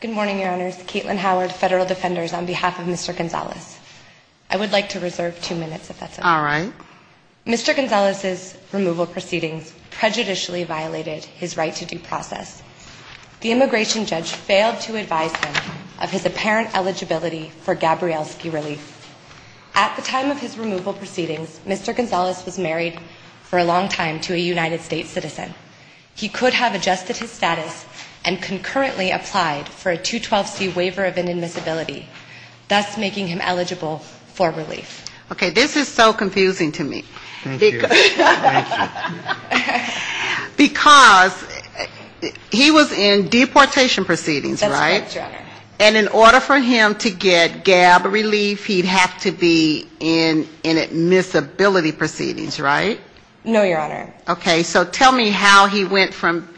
Good morning, Your Honors. Caitlin Howard, Federal Defenders, on behalf of Mr. Gonzales. I would like to reserve two minutes if that's okay. Mr. Gonzales' removal proceedings prejudicially violated his right to due process. The immigration judge failed to advise him of his apparent eligibility for Gabrielski relief. At the time of his removal proceedings, Mr. Gonzales was married for a long time to a United States citizen. He could have adjusted his status and concurrently applied for a 212C waiver of inadmissibility, thus making him eligible for relief. Okay, this is so confusing to me. Thank you. Because he was in deportation proceedings, right? That's right, Your Honor. And in order for him to get Gab relief, he'd have to be in inadmissibility proceedings, right? No, Your Honor. Okay. So tell me how he went from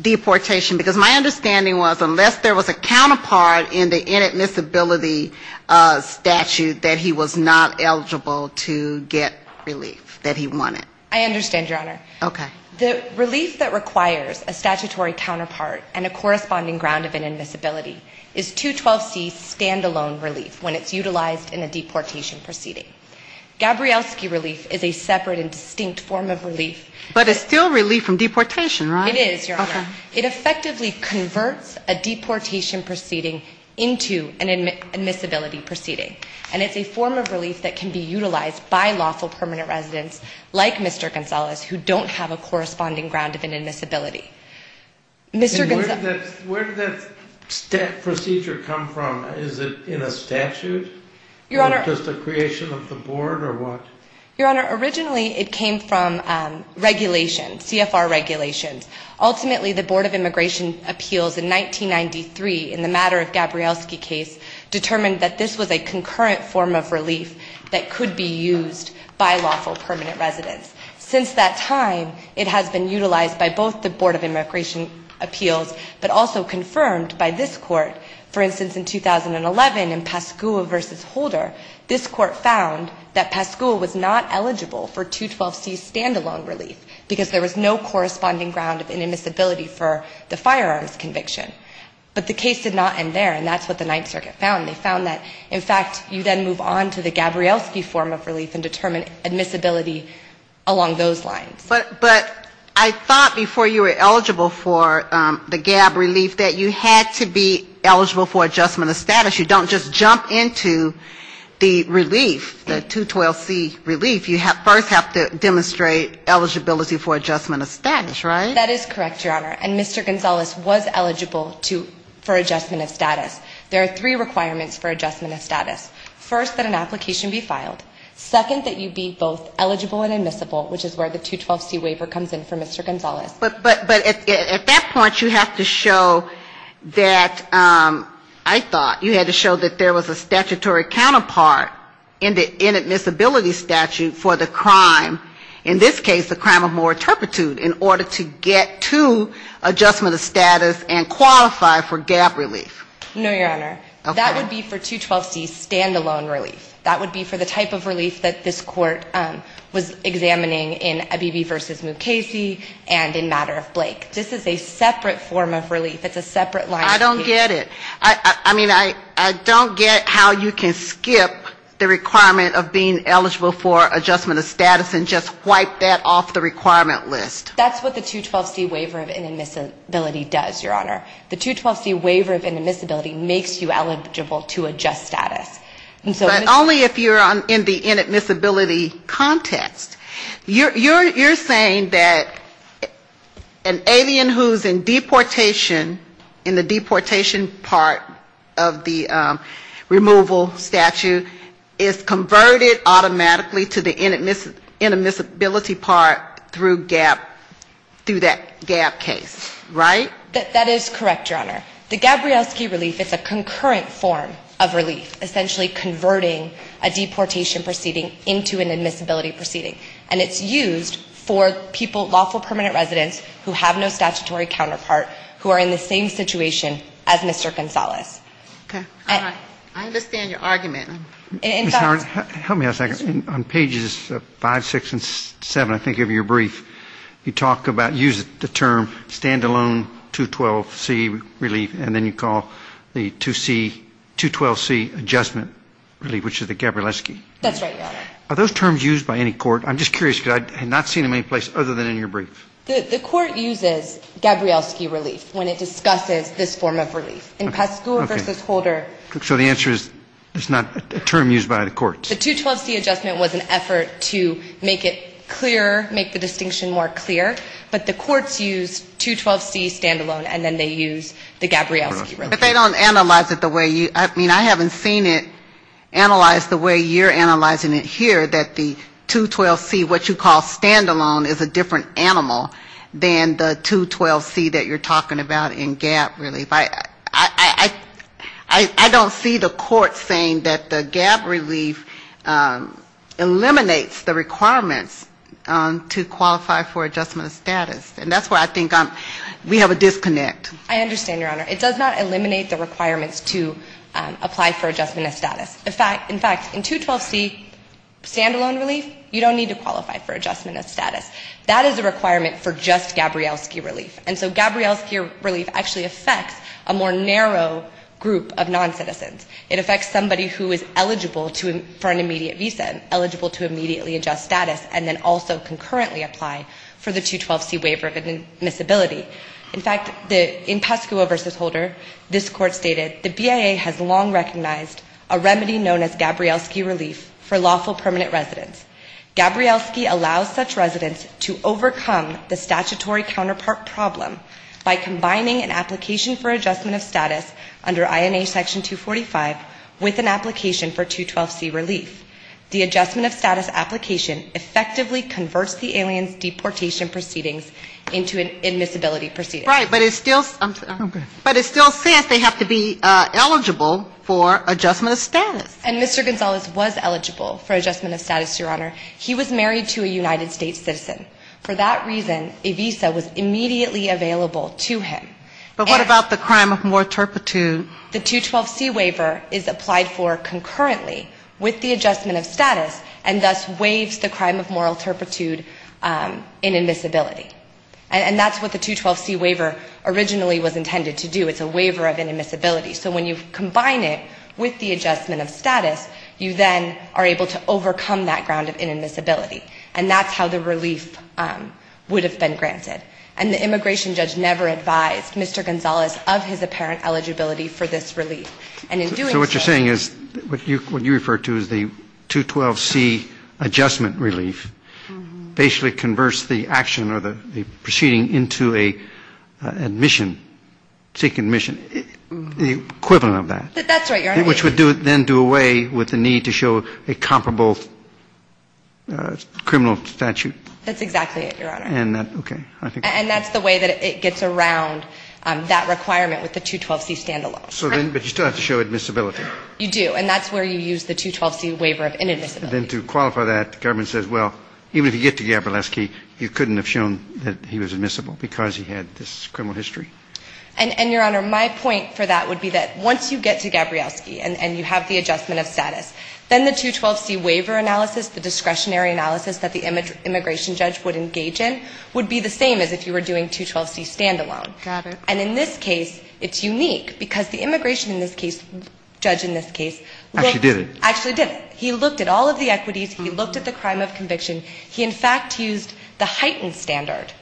deportation. Because my understanding was unless there was a counterpart in the inadmissibility statute that he was not eligible to get relief that he wanted. I understand, Your Honor. Okay. The relief that requires a statutory counterpart and a corresponding ground of inadmissibility is 212C stand-alone relief when it's utilized in a deportation proceeding. Gabrielski relief is a separate and distinct form of relief. But it's still relief from deportation, right? It is, Your Honor. Okay. It effectively converts a deportation proceeding into an admissibility proceeding. And it's a form of relief that can be utilized by lawful permanent residents like Mr. Gonzales who don't have a corresponding ground of inadmissibility. Mr. Gonzales. And where did that procedure come from? Is it in a statute? Your Honor. Or just a creation of the board or what? Your Honor, originally it came from regulation, CFR regulations. Ultimately, the Board of Immigration Appeals in 1993 in the matter of Gabrielski case determined that this was a concurrent form of relief that could be used by lawful permanent residents. Since that time, it has been utilized by both the Board of Immigration Appeals but also confirmed by this court. For instance, in 2011 in Pascua v. Holder, this court found that Pascua was not eligible for 212C stand-alone relief because there was no corresponding ground of inadmissibility for the firearms conviction. But the case did not end there, and that's what the Ninth Circuit found. They found that, in fact, you then move on to the Gabrielski form of relief and determine admissibility along those lines. But I thought before you were eligible for the Gab relief that you had to be eligible for adjustment of status. You don't just jump into the relief, the 212C relief. You first have to demonstrate eligibility for adjustment of status, right? That is correct, Your Honor. And Mr. Gonzalez was eligible for adjustment of status. There are three requirements for adjustment of status. First, that an application be filed. Second, that you be both eligible and admissible, which is where the 212C waiver comes in for Mr. Gonzalez. But at that point, you have to show that I thought you had to show that there was a statutory counterpart in the inadmissibility statute for the crime, in this case the crime of more turpitude, in order to get to adjustment of status and qualify for Gab relief. No, Your Honor. Okay. That would be for 212C stand-alone relief. That would be for the type of relief that this Court was examining in Abebe v. Mukasey and in matter of Blake. This is a separate form of relief. It's a separate line of relief. I don't get it. I mean, I don't get how you can skip the requirement of being eligible for adjustment of status and just wipe that off the requirement list. That's what the 212C waiver of inadmissibility does, Your Honor. The 212C waiver of inadmissibility makes you eligible to adjust status. But only if you're in the inadmissibility context. You're saying that an alien who's in deportation, in the deportation part of the removal statute, is converted automatically to the inadmissibility part through Gab, through that Gab case, right? That is correct, Your Honor. The Gabrielski relief, it's a concurrent form of relief, essentially converting a deportation proceeding into an admissibility proceeding. And it's used for people, lawful permanent residents, who have no statutory counterpart, who are in the same situation as Mr. Gonzalez. Okay. All right. I understand your argument. Ms. Howard, help me out a second. On pages 5, 6, and 7, I think, of your brief, you talk about using the term stand-alone 212C relief. And then you call the 2C, 212C adjustment relief, which is the Gabrielski. That's right, Your Honor. Are those terms used by any court? I'm just curious, because I have not seen them any place other than in your brief. The court uses Gabrielski relief when it discusses this form of relief. Okay. In Pascua v. Holder. So the answer is it's not a term used by the courts? The 212C adjustment was an effort to make it clearer, make the distinction more clear. But the courts use 212C stand-alone, and then they use the Gabrielski relief. But they don't analyze it the way you, I mean, I haven't seen it analyzed the way you're analyzing it here, that the 212C, what you call stand-alone, is a different animal than the 212C that you're talking about in gab relief. I don't see the court saying that the gab relief eliminates the requirements to qualify for adjustment assistance. And that's why I think we have a disconnect. I understand, Your Honor. It does not eliminate the requirements to apply for adjustment of status. In fact, in 212C stand-alone relief, you don't need to qualify for adjustment of status. That is a requirement for just Gabrielski relief. And so Gabrielski relief actually affects a more narrow group of noncitizens. It affects somebody who is eligible to, for an immediate visa, eligible to immediately adjust status, and then also concurrently apply for the 212C waiver of admissibility. In fact, in Pasco versus Holder, this court stated, the BIA has long recognized a remedy known as Gabrielski relief for lawful permanent residents. Gabrielski allows such residents to overcome the statutory counterpart problem by combining an application for adjustment of status under INA Section 245, with an application for 212C relief. The adjustment of status application effectively converts the alien's deportation proceedings into an admissibility proceeding. Right, but it still says they have to be eligible for adjustment of status. And Mr. Gonzalez was eligible for adjustment of status, Your Honor. He was married to a United States citizen. For that reason, a visa was immediately available to him. But what about the crime of moral turpitude? The 212C waiver is applied for concurrently with the adjustment of status, and thus waives the crime of moral turpitude in admissibility. And that's what the 212C waiver originally was intended to do. It's a waiver of inadmissibility. So when you combine it with the adjustment of status, you then are able to overcome that ground of inadmissibility. And that's how the relief would have been granted. And the immigration judge never advised Mr. Gonzalez of his apparent eligibility for this relief. And in doing so... But that's right, Your Honor. Which would then do away with the need to show a comparable criminal statute. That's exactly it, Your Honor. And that's the way that it gets around that requirement with the 212C stand-alone. But you still have to show admissibility. You do, and that's where you use the 212C waiver of inadmissibility. Then to qualify that, the government says, well, even if you get to Gabrielski, you couldn't have shown that he was admissible because he had this criminal history. And, Your Honor, my point for that would be that once you get to Gabrielski and you have the adjustment of status, then the 212C waiver analysis, the discretionary analysis that the immigration judge would engage in, would be the same as if you were doing 212C stand-alone. Got it. And in this case, it's unique because the immigration in this case, judge in this case... Actually did it. Actually did it. He looked at all of the equities. He looked at the crime of conviction. He, in fact, used the heightened standard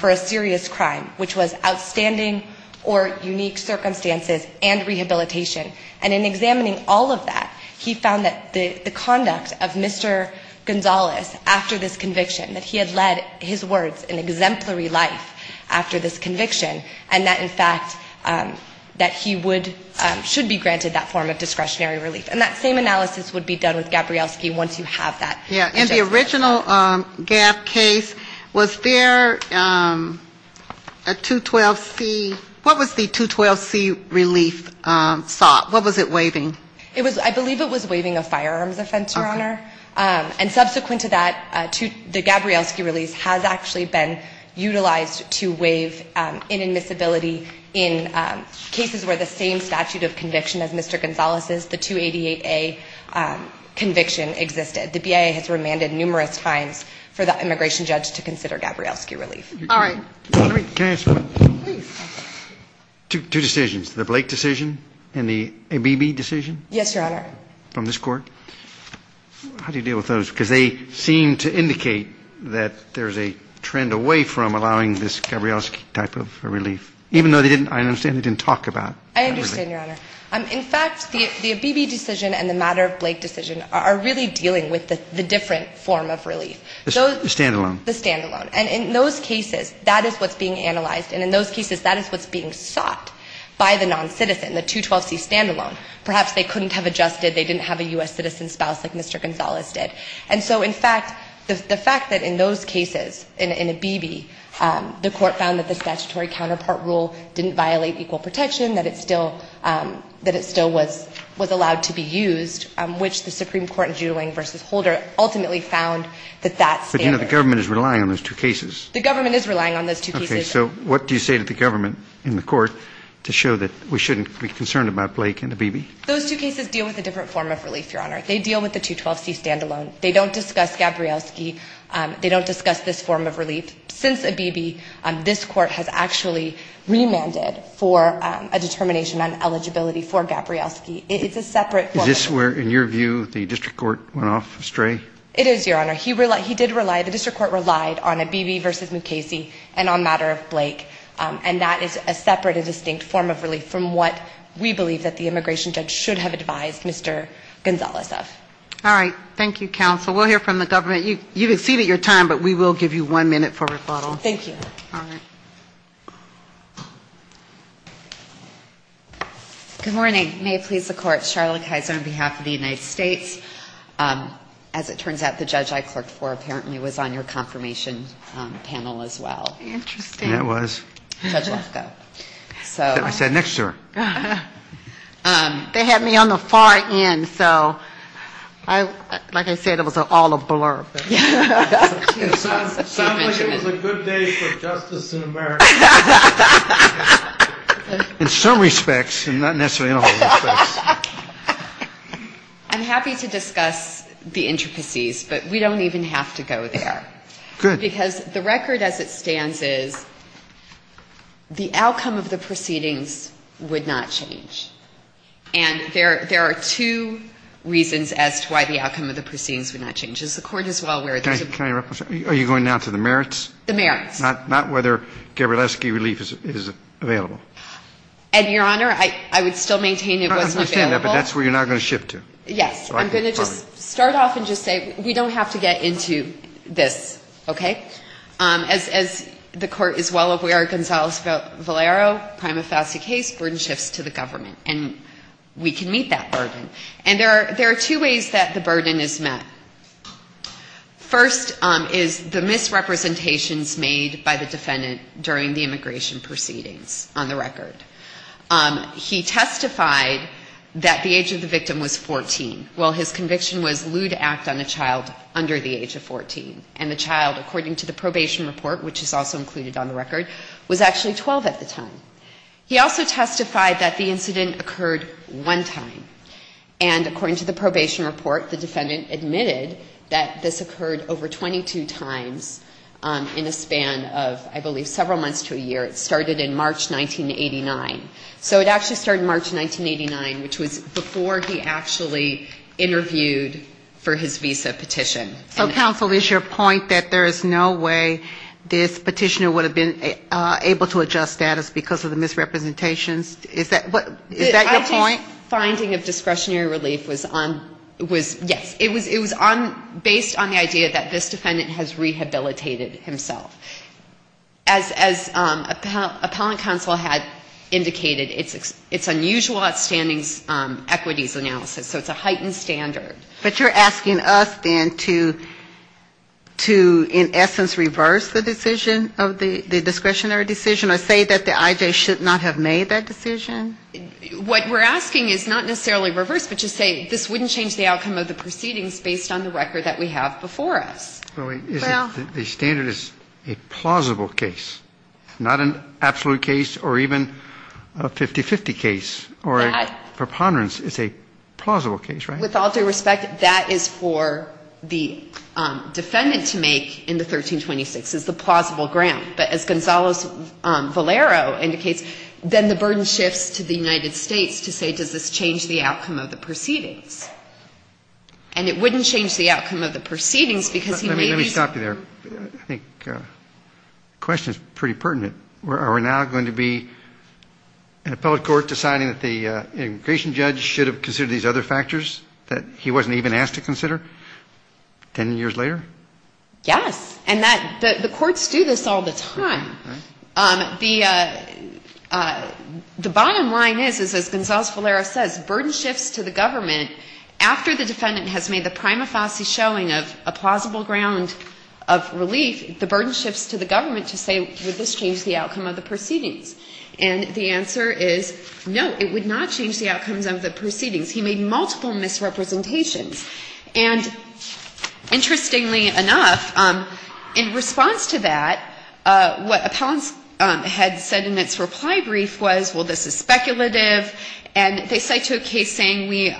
for a serious crime, which was outstanding or unique circumstances and rehabilitation. And in examining all of that, he found that the conduct of Mr. Gonzalez after this conviction, that he had led, his words, an exemplary life after this conviction, and that, in fact, that he would, should be granted that form of discretionary relief. And that same analysis would be done with Gabrielski once you have that adjustment. Yeah. In the original Gab case, was there a 212C? What was the 212C relief sought? What was it waiving? It was, I believe it was waiving a firearms offense, Your Honor. Okay. And subsequent to that, the Gabrielski release has actually been utilized to waive inadmissibility in cases where the same statute of conviction as Mr. Gonzalez's, the 288A conviction, existed. The BIA has remanded numerous fines for the immigration judge to consider Gabrielski relief. All right. Can I ask one thing? Please. Two decisions, the Blake decision and the ABB decision? Yes, Your Honor. From this court. How do you deal with those? Because they seem to indicate that there's a trend away from allowing this Gabrielski type of relief. Even though they didn't, I understand, they didn't talk about that relief. I understand, Your Honor. In fact, the ABB decision and the matter of Blake decision are really dealing with the different form of relief. The stand-alone. The stand-alone. And in those cases, that is what's being analyzed, and in those cases, that is what's being sought by the noncitizen, the 212C stand-alone. Perhaps they couldn't have adjusted. They didn't have a U.S. citizen spouse like Mr. Gonzalez did. And so, in fact, the fact that in those cases, in ABB, the court found that the statutory counterpart rule didn't violate equal protection, that it still was allowed to be used, which the Supreme Court in Judling v. Holder ultimately found that that standard. But, you know, the government is relying on those two cases. The government is relying on those two cases. Okay. So what do you say to the government in the court to show that we shouldn't be concerned about Blake and ABB? Those two cases deal with a different form of relief, Your Honor. They deal with the 212C stand-alone. They don't discuss Gabrielski. They don't discuss this form of relief. Since ABB, this court has actually remanded for a determination on eligibility for Gabrielski. It's a separate form of relief. Is this where, in your view, the district court went off astray? It is, Your Honor. He did rely, the district court relied on ABB v. Mukasey and on the matter of Blake, and that is a separate and distinct form of relief from what we believe that the immigration judge should have advised Mr. Gonzales of. All right. Thank you, counsel. We'll hear from the government. You've exceeded your time, but we will give you one minute for rebuttal. Thank you. All right. Good morning. May it please the court, Charlotte Kaiser on behalf of the United States. As it turns out, the judge I clerked for apparently was on your confirmation panel as well. Interesting. That was. Judge Lesko. I sat next to her. They had me on the far end, so like I said, it was all a blur. It sounds like it was a good day for justice in America. In some respects, and not necessarily in all respects. I'm happy to discuss the intricacies, but we don't even have to go there. Good. Because the record as it stands is the outcome of the proceedings would not change. And there are two reasons as to why the outcome of the proceedings would not change. Is the court as well aware of this? Are you going now to the merits? The merits. Not whether Gabrielski relief is available. And, Your Honor, I would still maintain it wasn't available. I understand that, but that's where you're not going to shift to. Yes. I'm going to just start off and just say we don't have to get into this, okay? As the court is well aware, Gonzalez-Valero, prima facie case, burden shifts to the government. And we can meet that burden. And there are two ways that the burden is met. First is the misrepresentations made by the defendant during the immigration proceedings on the record. He testified that the age of the victim was 14. Well, his conviction was lewd act on a child under the age of 14. And the child, according to the probation report, which is also included on the record, was actually 12 at the time. He also testified that the incident occurred one time. And according to the probation report, the defendant admitted that this occurred over 22 times in a span of, I believe, several months to a year. It started in March 1989. So it actually started in March 1989, which was before he actually interviewed for his visa petition. So, counsel, is your point that there is no way this petitioner would have been able to adjust status because of the misrepresentations? Is that your point? My finding of discretionary relief was on, was, yes, it was on, based on the idea that this defendant has rehabilitated himself. As appellant counsel had indicated, it's unusual outstanding equities analysis, so it's a heightened standard. But you're asking us then to, in essence, reverse the decision, the discretionary decision, or say that the IJ should not have made that decision? What we're asking is not necessarily reverse, but to say this wouldn't change the outcome of the proceedings based on the record that we have before us. Well, the standard is a plausible case, not an absolute case or even a 50-50 case or a preponderance. It's a plausible case, right? With all due respect, that is for the defendant to make in the 1326, is the plausible ground. But as Gonzalo Valero indicates, then the burden shifts to the United States to say, does this change the outcome of the proceedings? And it wouldn't change the outcome of the proceedings because he may be so. Let me stop you there. I think the question is pretty pertinent. Are we now going to be an appellate court deciding that the immigration judge should have considered these other factors that he wasn't even asked to consider 10 years later? Yes. And the courts do this all the time. The bottom line is, as Gonzalo Valero says, burden shifts to the government. After the defendant has made the prima facie showing of a plausible ground of relief, the burden shifts to the government to say, would this change the outcome of the proceedings? And the answer is no, it would not change the outcomes of the proceedings. He made multiple misrepresentations. And interestingly enough, in response to that, what appellants had said in its reply brief was, well, this is speculative. And they cite to a case saying we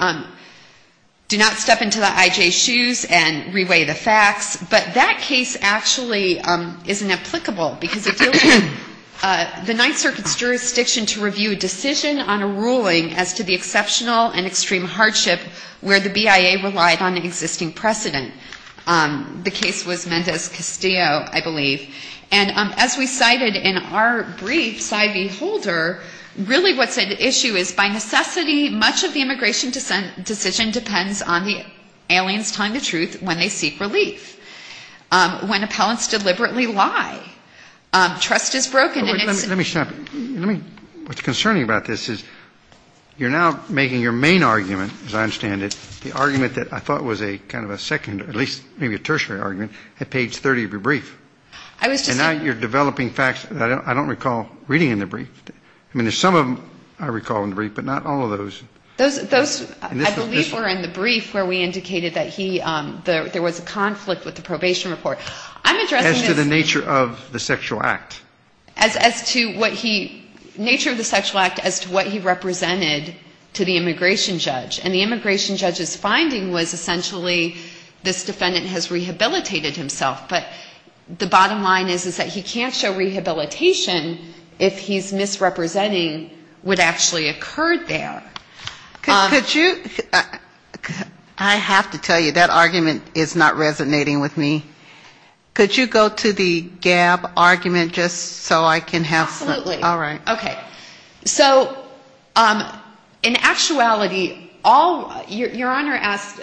do not step into the I.J.'s shoes and reweigh the facts. But that case actually isn't applicable because it deals with the Ninth Circuit's jurisdiction to review a decision on a ruling as to the exceptional and extreme hardship where the BIA relied on an existing precedent. The case was Mendez-Castillo, I believe. And as we cited in our brief, sigh beholder, really what's at issue is by necessity much of the immigration decision depends on the aliens telling the truth when they seek relief. When appellants deliberately lie, trust is broken. Let me stop you. What's concerning about this is you're now making your main argument, as I understand it, the argument that I thought was a kind of a second or at least maybe a tertiary argument at page 30 of your brief. And now you're developing facts I don't recall reading in the brief. I mean, there's some of them I recall in the brief, but not all of those. Those I believe were in the brief where we indicated that he, there was a conflict with the probation report. As to the nature of the sexual act. As to what he, nature of the sexual act as to what he represented to the immigration judge. And the immigration judge's finding was essentially this defendant has rehabilitated himself, but the bottom line is that he can't show rehabilitation if he's misrepresenting what actually occurred there. Could you, I have to tell you, that argument is not resonating with me. Could you go to the GAB argument just so I can have some? Absolutely. All right. Okay. So in actuality, all, your Honor asked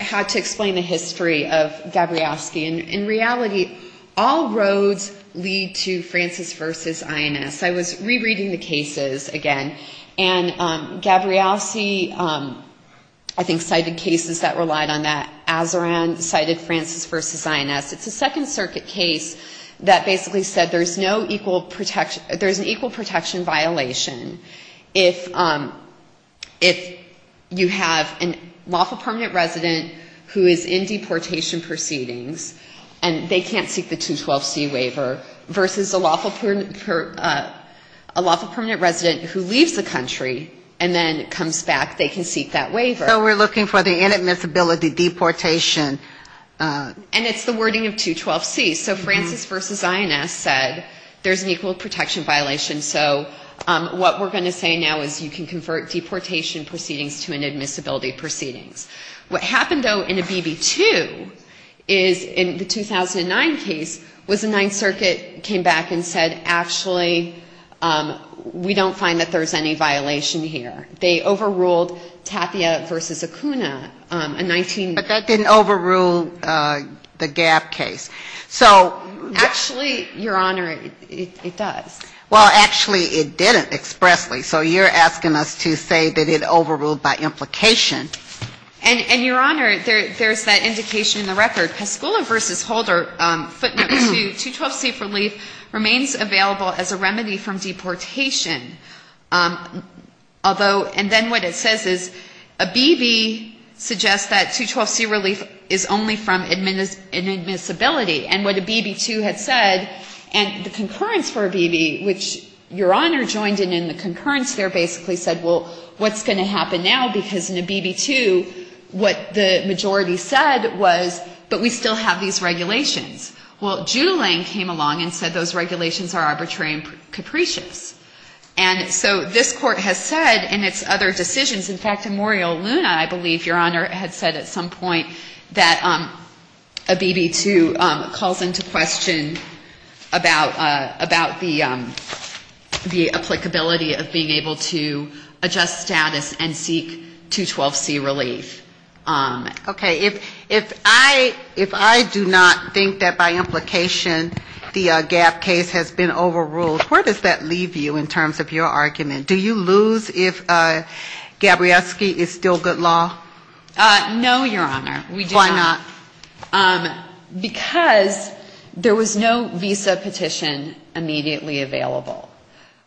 how to explain the history of Gabrielski. And in reality, all roads lead to Francis versus INS. I was rereading the cases again. And Gabrielski, I think, cited cases that relied on that. Azaran cited Francis versus INS. It's a Second Circuit case that basically said there's no equal protection, there's an equal protection violation. If you have a lawful permanent resident who is in deportation proceedings, and they can't seek the 212C waiver, versus a lawful permanent resident who leaves the country and then comes back, they can seek that waiver. So we're looking for the inadmissibility deportation. And it's the wording of 212C. So Francis versus INS said there's an equal protection violation. So what we're going to say now is you can convert deportation proceedings to inadmissibility proceedings. What happened, though, in a BB2 is in the 2009 case was the Ninth Circuit came back and said, actually, we don't find that there's any violation here. They overruled Taffia versus Acuna, a 19-year-old. But that didn't overrule the Gab case. So actually, Your Honor, it does. Well, actually, it didn't expressly. So you're asking us to say that it overruled by implication. And, Your Honor, there's that indication in the record. Pascula versus Holder, footnote 2, 212C for leave remains available as a remedy from deportation. And then what it says is a BB suggests that 212C relief is only from inadmissibility. And what a BB2 had said, and the concurrence for a BB, which Your Honor joined in in the concurrence there, basically said, well, what's going to happen now? Because in a BB2, what the majority said was, but we still have these regulations. Well, Julian came along and said those regulations are arbitrary and capricious. And so this Court has said in its other decisions, in fact, in Morial Luna, I believe, Your Honor, had said at some point that a BB2 calls into question about the applicability of being able to adjust status and seek 212C relief. Okay. If I do not think that by implication the Gab case has been overruled, where does that leave you? In terms of your argument, do you lose if Gabrielski is still good law? No, Your Honor. Why not? Because there was no visa petition immediately available.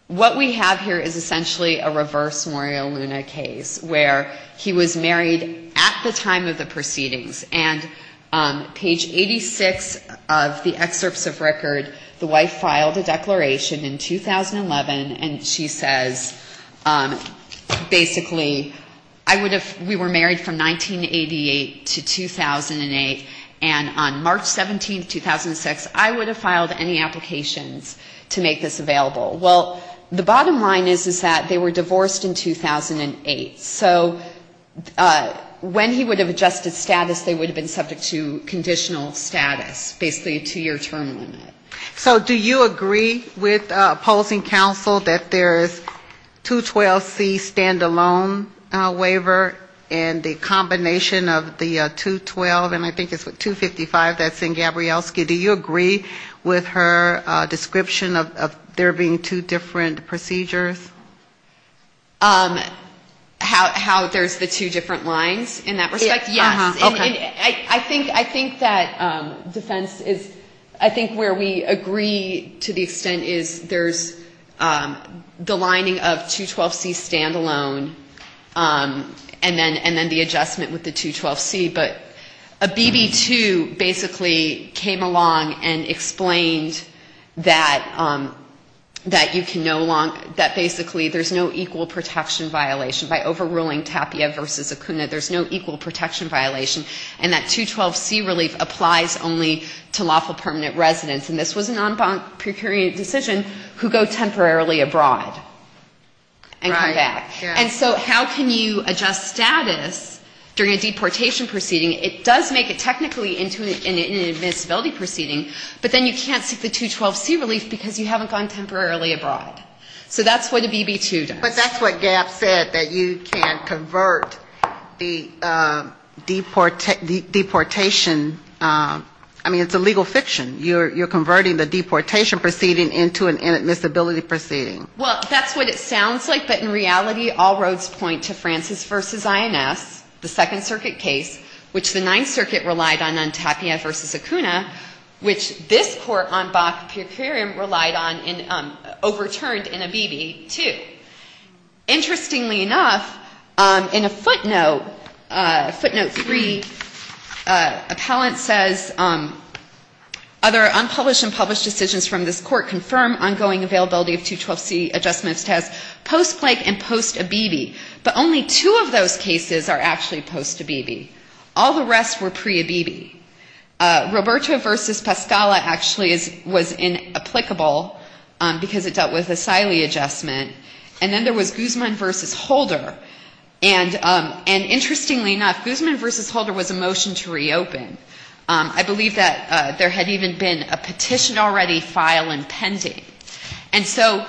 What we have here is essentially a reverse Morial Luna case, where he was married at the time of the proceedings, and page 86 of the excerpts of record, the wife filed a declaration in 2011, and she says basically, I would have, we were married from 1988 to 2008, and on March 17, 2006, I would have filed any applications to make this available. Well, the bottom line is, is that they were divorced in 2008. So when he would have adjusted status, they would have been subject to conditional status, basically a two-year term limit. So do you agree with opposing counsel that there is 212C stand-alone waiver, and the combination of the 212, and I think it's 255 that's in Gabrielski, do you agree with her description of there being two different procedures? How there's the two different lines in that respect? Yes. Okay. I mean, I think that defense is, I think where we agree to the extent is there's the lining of 212C stand-alone, and then the adjustment with the 212C, but a BB2 basically came along and explained that you can no longer, that basically there's no equal protection violation. By overruling TAPIA versus ACUNA, there's no equal protection violation, and that 212C relief applies only to lawful permanent residents, and this was a non-procurement decision, who go temporarily abroad and come back. And so how can you adjust status during a deportation proceeding? It does make it technically into an admissibility proceeding, but then you can't seek the 212C relief because you haven't gone temporarily abroad. So that's what a BB2 does. But that's what Gab said, that you can convert the deportation, I mean, it's a legal fiction. You're converting the deportation proceeding into an admissibility proceeding. Well, that's what it sounds like, but in reality, all roads point to Francis v. INS, the Second Circuit case, which the Ninth Circuit relied on on TAPIA versus ACUNA, which this Court on Bach Pecureum relied on and overturned in a BB2. Interestingly enough, in a footnote, footnote 3, appellant says, other unpublished and published decisions from this Court confirm ongoing availability of 212C adjustment of status post-Blake and post-ABB. But only two of those cases are actually post-ABB. All the rest were pre-ABB. Roberto v. Pascala actually was inapplicable because it dealt with the SILI adjustment, and then there was Guzman v. Holder, and interestingly enough, Guzman v. Holder was a motion to reopen. I believe that there had even been a petition already filed and pending. And so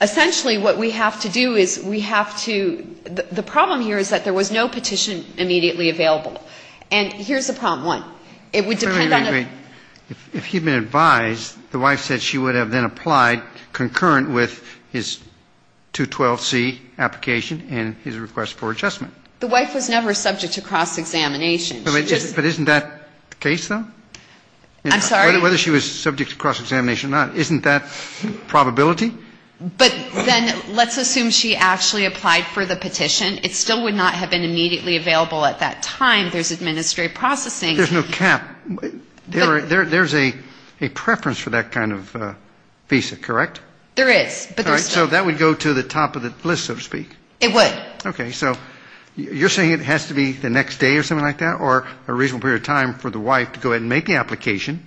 essentially what we have to do is we have to the problem here is that there was no petition immediately available. And here's the problem. One, it would depend on the. If he had been advised, the wife said she would have then applied concurrent with his 212C application and his request for adjustment. The wife was never subject to cross-examination. But isn't that the case, though? I'm sorry? Whether she was subject to cross-examination or not, isn't that probability? But then let's assume she actually applied for the petition. It still would not have been immediately available at that time. There's administrative processing. There's no cap. There's a preference for that kind of visa, correct? There is. So that would go to the top of the list, so to speak. It would. Okay. So you're saying it has to be the next day or something like that, or a reasonable period of time for the wife to go and make the application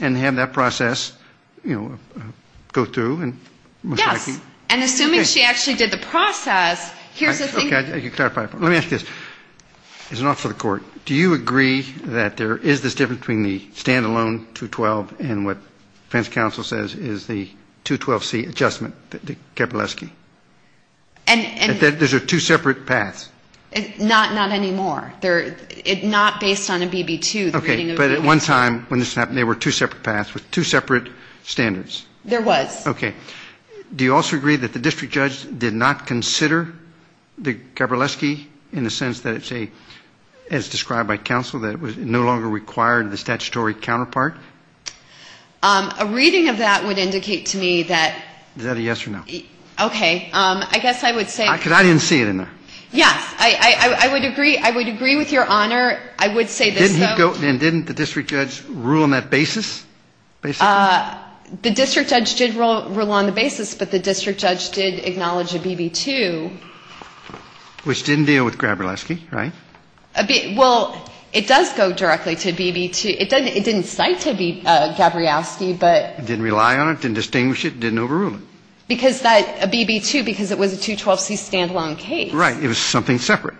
and have that process, you know, go through? Yes. And assuming she actually did the process, here's the thing. Let me ask you this. As an officer of the court, do you agree that there is this difference between the stand-alone 212 and what defense counsel says is the 212C adjustment, the Kapileski? There's two separate paths. Not anymore. Not based on a BB-2. Okay. But at one time, when this happened, there were two separate paths with two separate standards. There was. Okay. Do you also agree that the district judge did not consider the Kapileski in the sense that it's a, as described by counsel, that it no longer required the statutory counterpart? A reading of that would indicate to me that. Is that a yes or no? Okay. I guess I would say. Because I didn't see it in there. Yes. I would agree. I would agree with Your Honor. I would say this, though. And didn't the district judge rule on that basis, basically? The district judge did rule on the basis, but the district judge did acknowledge a BB-2. Which didn't deal with Gabrielski, right? Well, it does go directly to BB-2. It didn't cite to be Gabrielski, but. Didn't rely on it, didn't distinguish it, didn't overrule it. Because that BB-2, because it was a 212C stand-alone case. Right. It was something separate.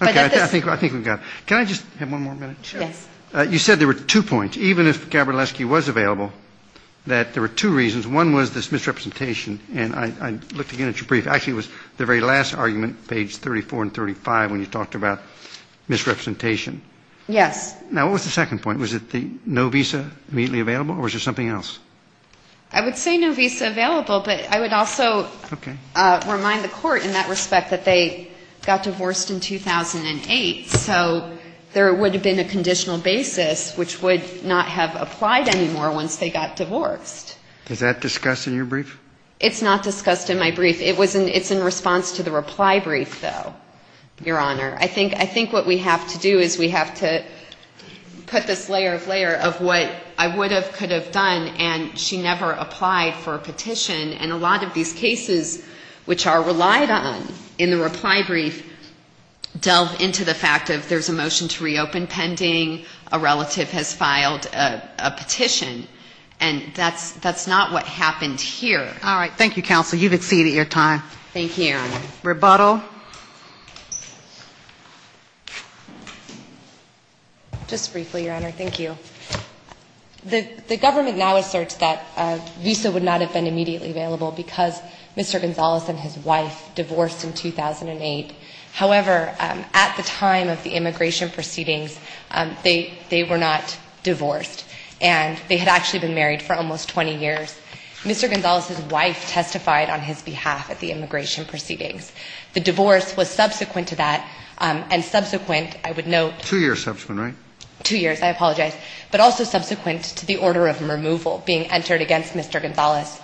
Okay. I think we've got it. Can I just have one more minute? Yes. You said there were two points. Even if Gabrielski was available, that there were two reasons. One was this misrepresentation, and I looked again at your brief. Actually, it was the very last argument, page 34 and 35, when you talked about misrepresentation. Yes. Now, what was the second point? Was it the no visa immediately available, or was there something else? I would say no visa available, but I would also remind the court in that respect that they got divorced in 2008, so there would have been a conditional basis, which would not have applied anymore once they got divorced. Is that discussed in your brief? It's not discussed in my brief. It's in response to the reply brief, though, Your Honor. I think what we have to do is we have to put this layer of layer of what I would have, could have done, and she never applied for a petition. And a lot of these cases, which are relied on in the reply brief, delve into the fact of there's a motion to reopen pending, a relative has filed a petition, and that's not what happened here. All right. Thank you, counsel. You've exceeded your time. Thank you, Your Honor. Rebuttal. Just briefly, Your Honor. Thank you. The government now asserts that a visa would not have been immediately available because Mr. Gonzales and his wife divorced in 2008. However, at the time of the immigration proceedings, they were not divorced, and they had actually been married for almost 20 years. Mr. Gonzales' wife testified on his behalf at the immigration proceedings. The divorce was subsequent to that, and subsequent, I would note. Two years subsequent, right? Two years. I apologize. But also subsequent to the order of removal being entered against Mr. Gonzales.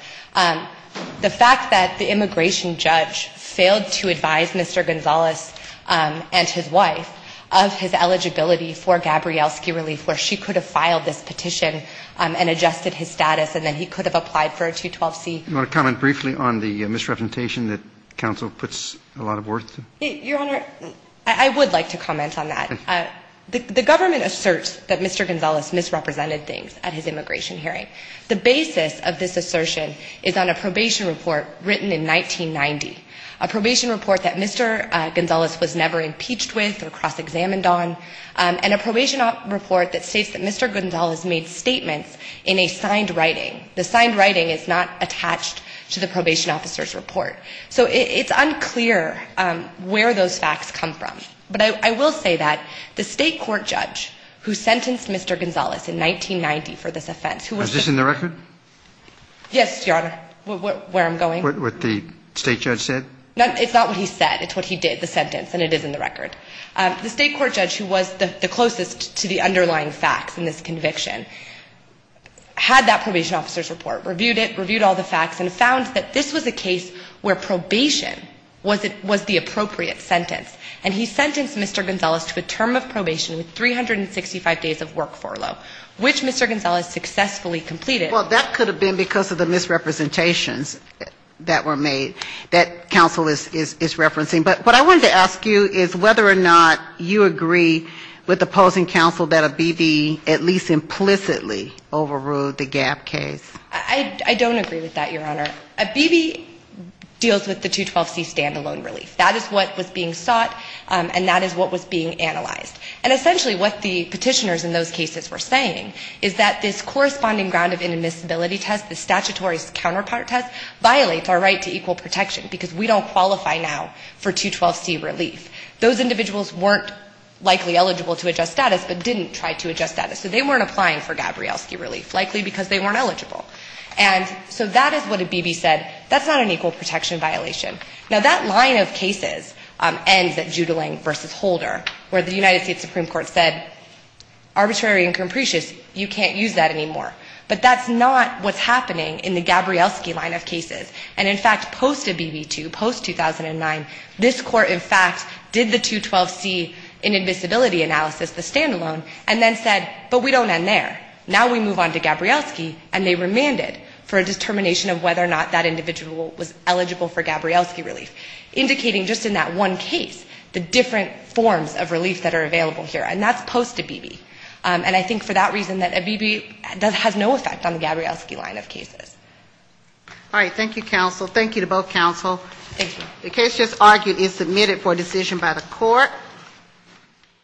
The fact that the immigration judge failed to advise Mr. Gonzales and his wife of his eligibility for Gabrielski relief, where she could have filed this petition and adjusted his status, and then he could have applied for a 212C. Do you want to comment briefly on the misrepresentation that counsel puts a lot of work to? Your Honor, I would like to comment on that. The government asserts that Mr. Gonzales misrepresented things at his immigration hearing. The basis of this assertion is on a probation report written in 1990, a probation report that Mr. Gonzales was never impeached with or cross-examined on, and a probation report that states that Mr. Gonzales made statements in a signed writing. The signed writing is not attached to the probation officer's report. So it's unclear where those facts come from. But I will say that the state court judge who sentenced Mr. Gonzales in 1990 for this offense. Is this in the record? Yes, Your Honor, where I'm going. What the state judge said? It's not what he said. It's what he did, the sentence, and it is in the record. The state court judge who was the closest to the underlying facts in this conviction had that probation officer's report, reviewed it, reviewed all the facts, and found that this was a case where probation was the appropriate sentence. And he sentenced Mr. Gonzales to a term of probation with 365 days of work furlough, which Mr. Gonzales successfully completed. Well, that could have been because of the misrepresentations that were made that counsel is referencing. But what I wanted to ask you is whether or not you agree with opposing counsel that Abebe at least implicitly overruled the Gap case. I don't agree with that, Your Honor. Abebe deals with the 212C standalone relief. That is what was being sought, and that is what was being analyzed. And essentially what the petitioners in those cases were saying is that this corresponding ground of inadmissibility test, the statutory counterpart test, violates our right to equal protection, because we don't qualify now for 212C relief. Those individuals weren't likely eligible to adjust status, but didn't try to adjust status. So they weren't applying for Gabrielski relief, likely because they weren't eligible. And so that is what Abebe said. That's not an equal protection violation. Now, that line of cases ends at Judling v. Holder, where the United States Supreme Court said, arbitrary and capricious, you can't use that anymore. But that's not what's happening in the Gabrielski line of cases. And, in fact, post-Abebe II, post-2009, this Court, in fact, did the 212C inadmissibility analysis, the standalone, and then said, but we don't end there. Now we move on to Gabrielski, and they remanded for a determination of whether or not that individual was eligible for Gabrielski relief, indicating just in that one case the different forms of relief that are available here. And that's post-Abebe. And I think for that reason that Abebe has no effect on the Gabrielski line of cases. All right. Thank you, counsel. Thank you to both counsel. Thank you. The case just argued is submitted for decision by the Court. Thank you.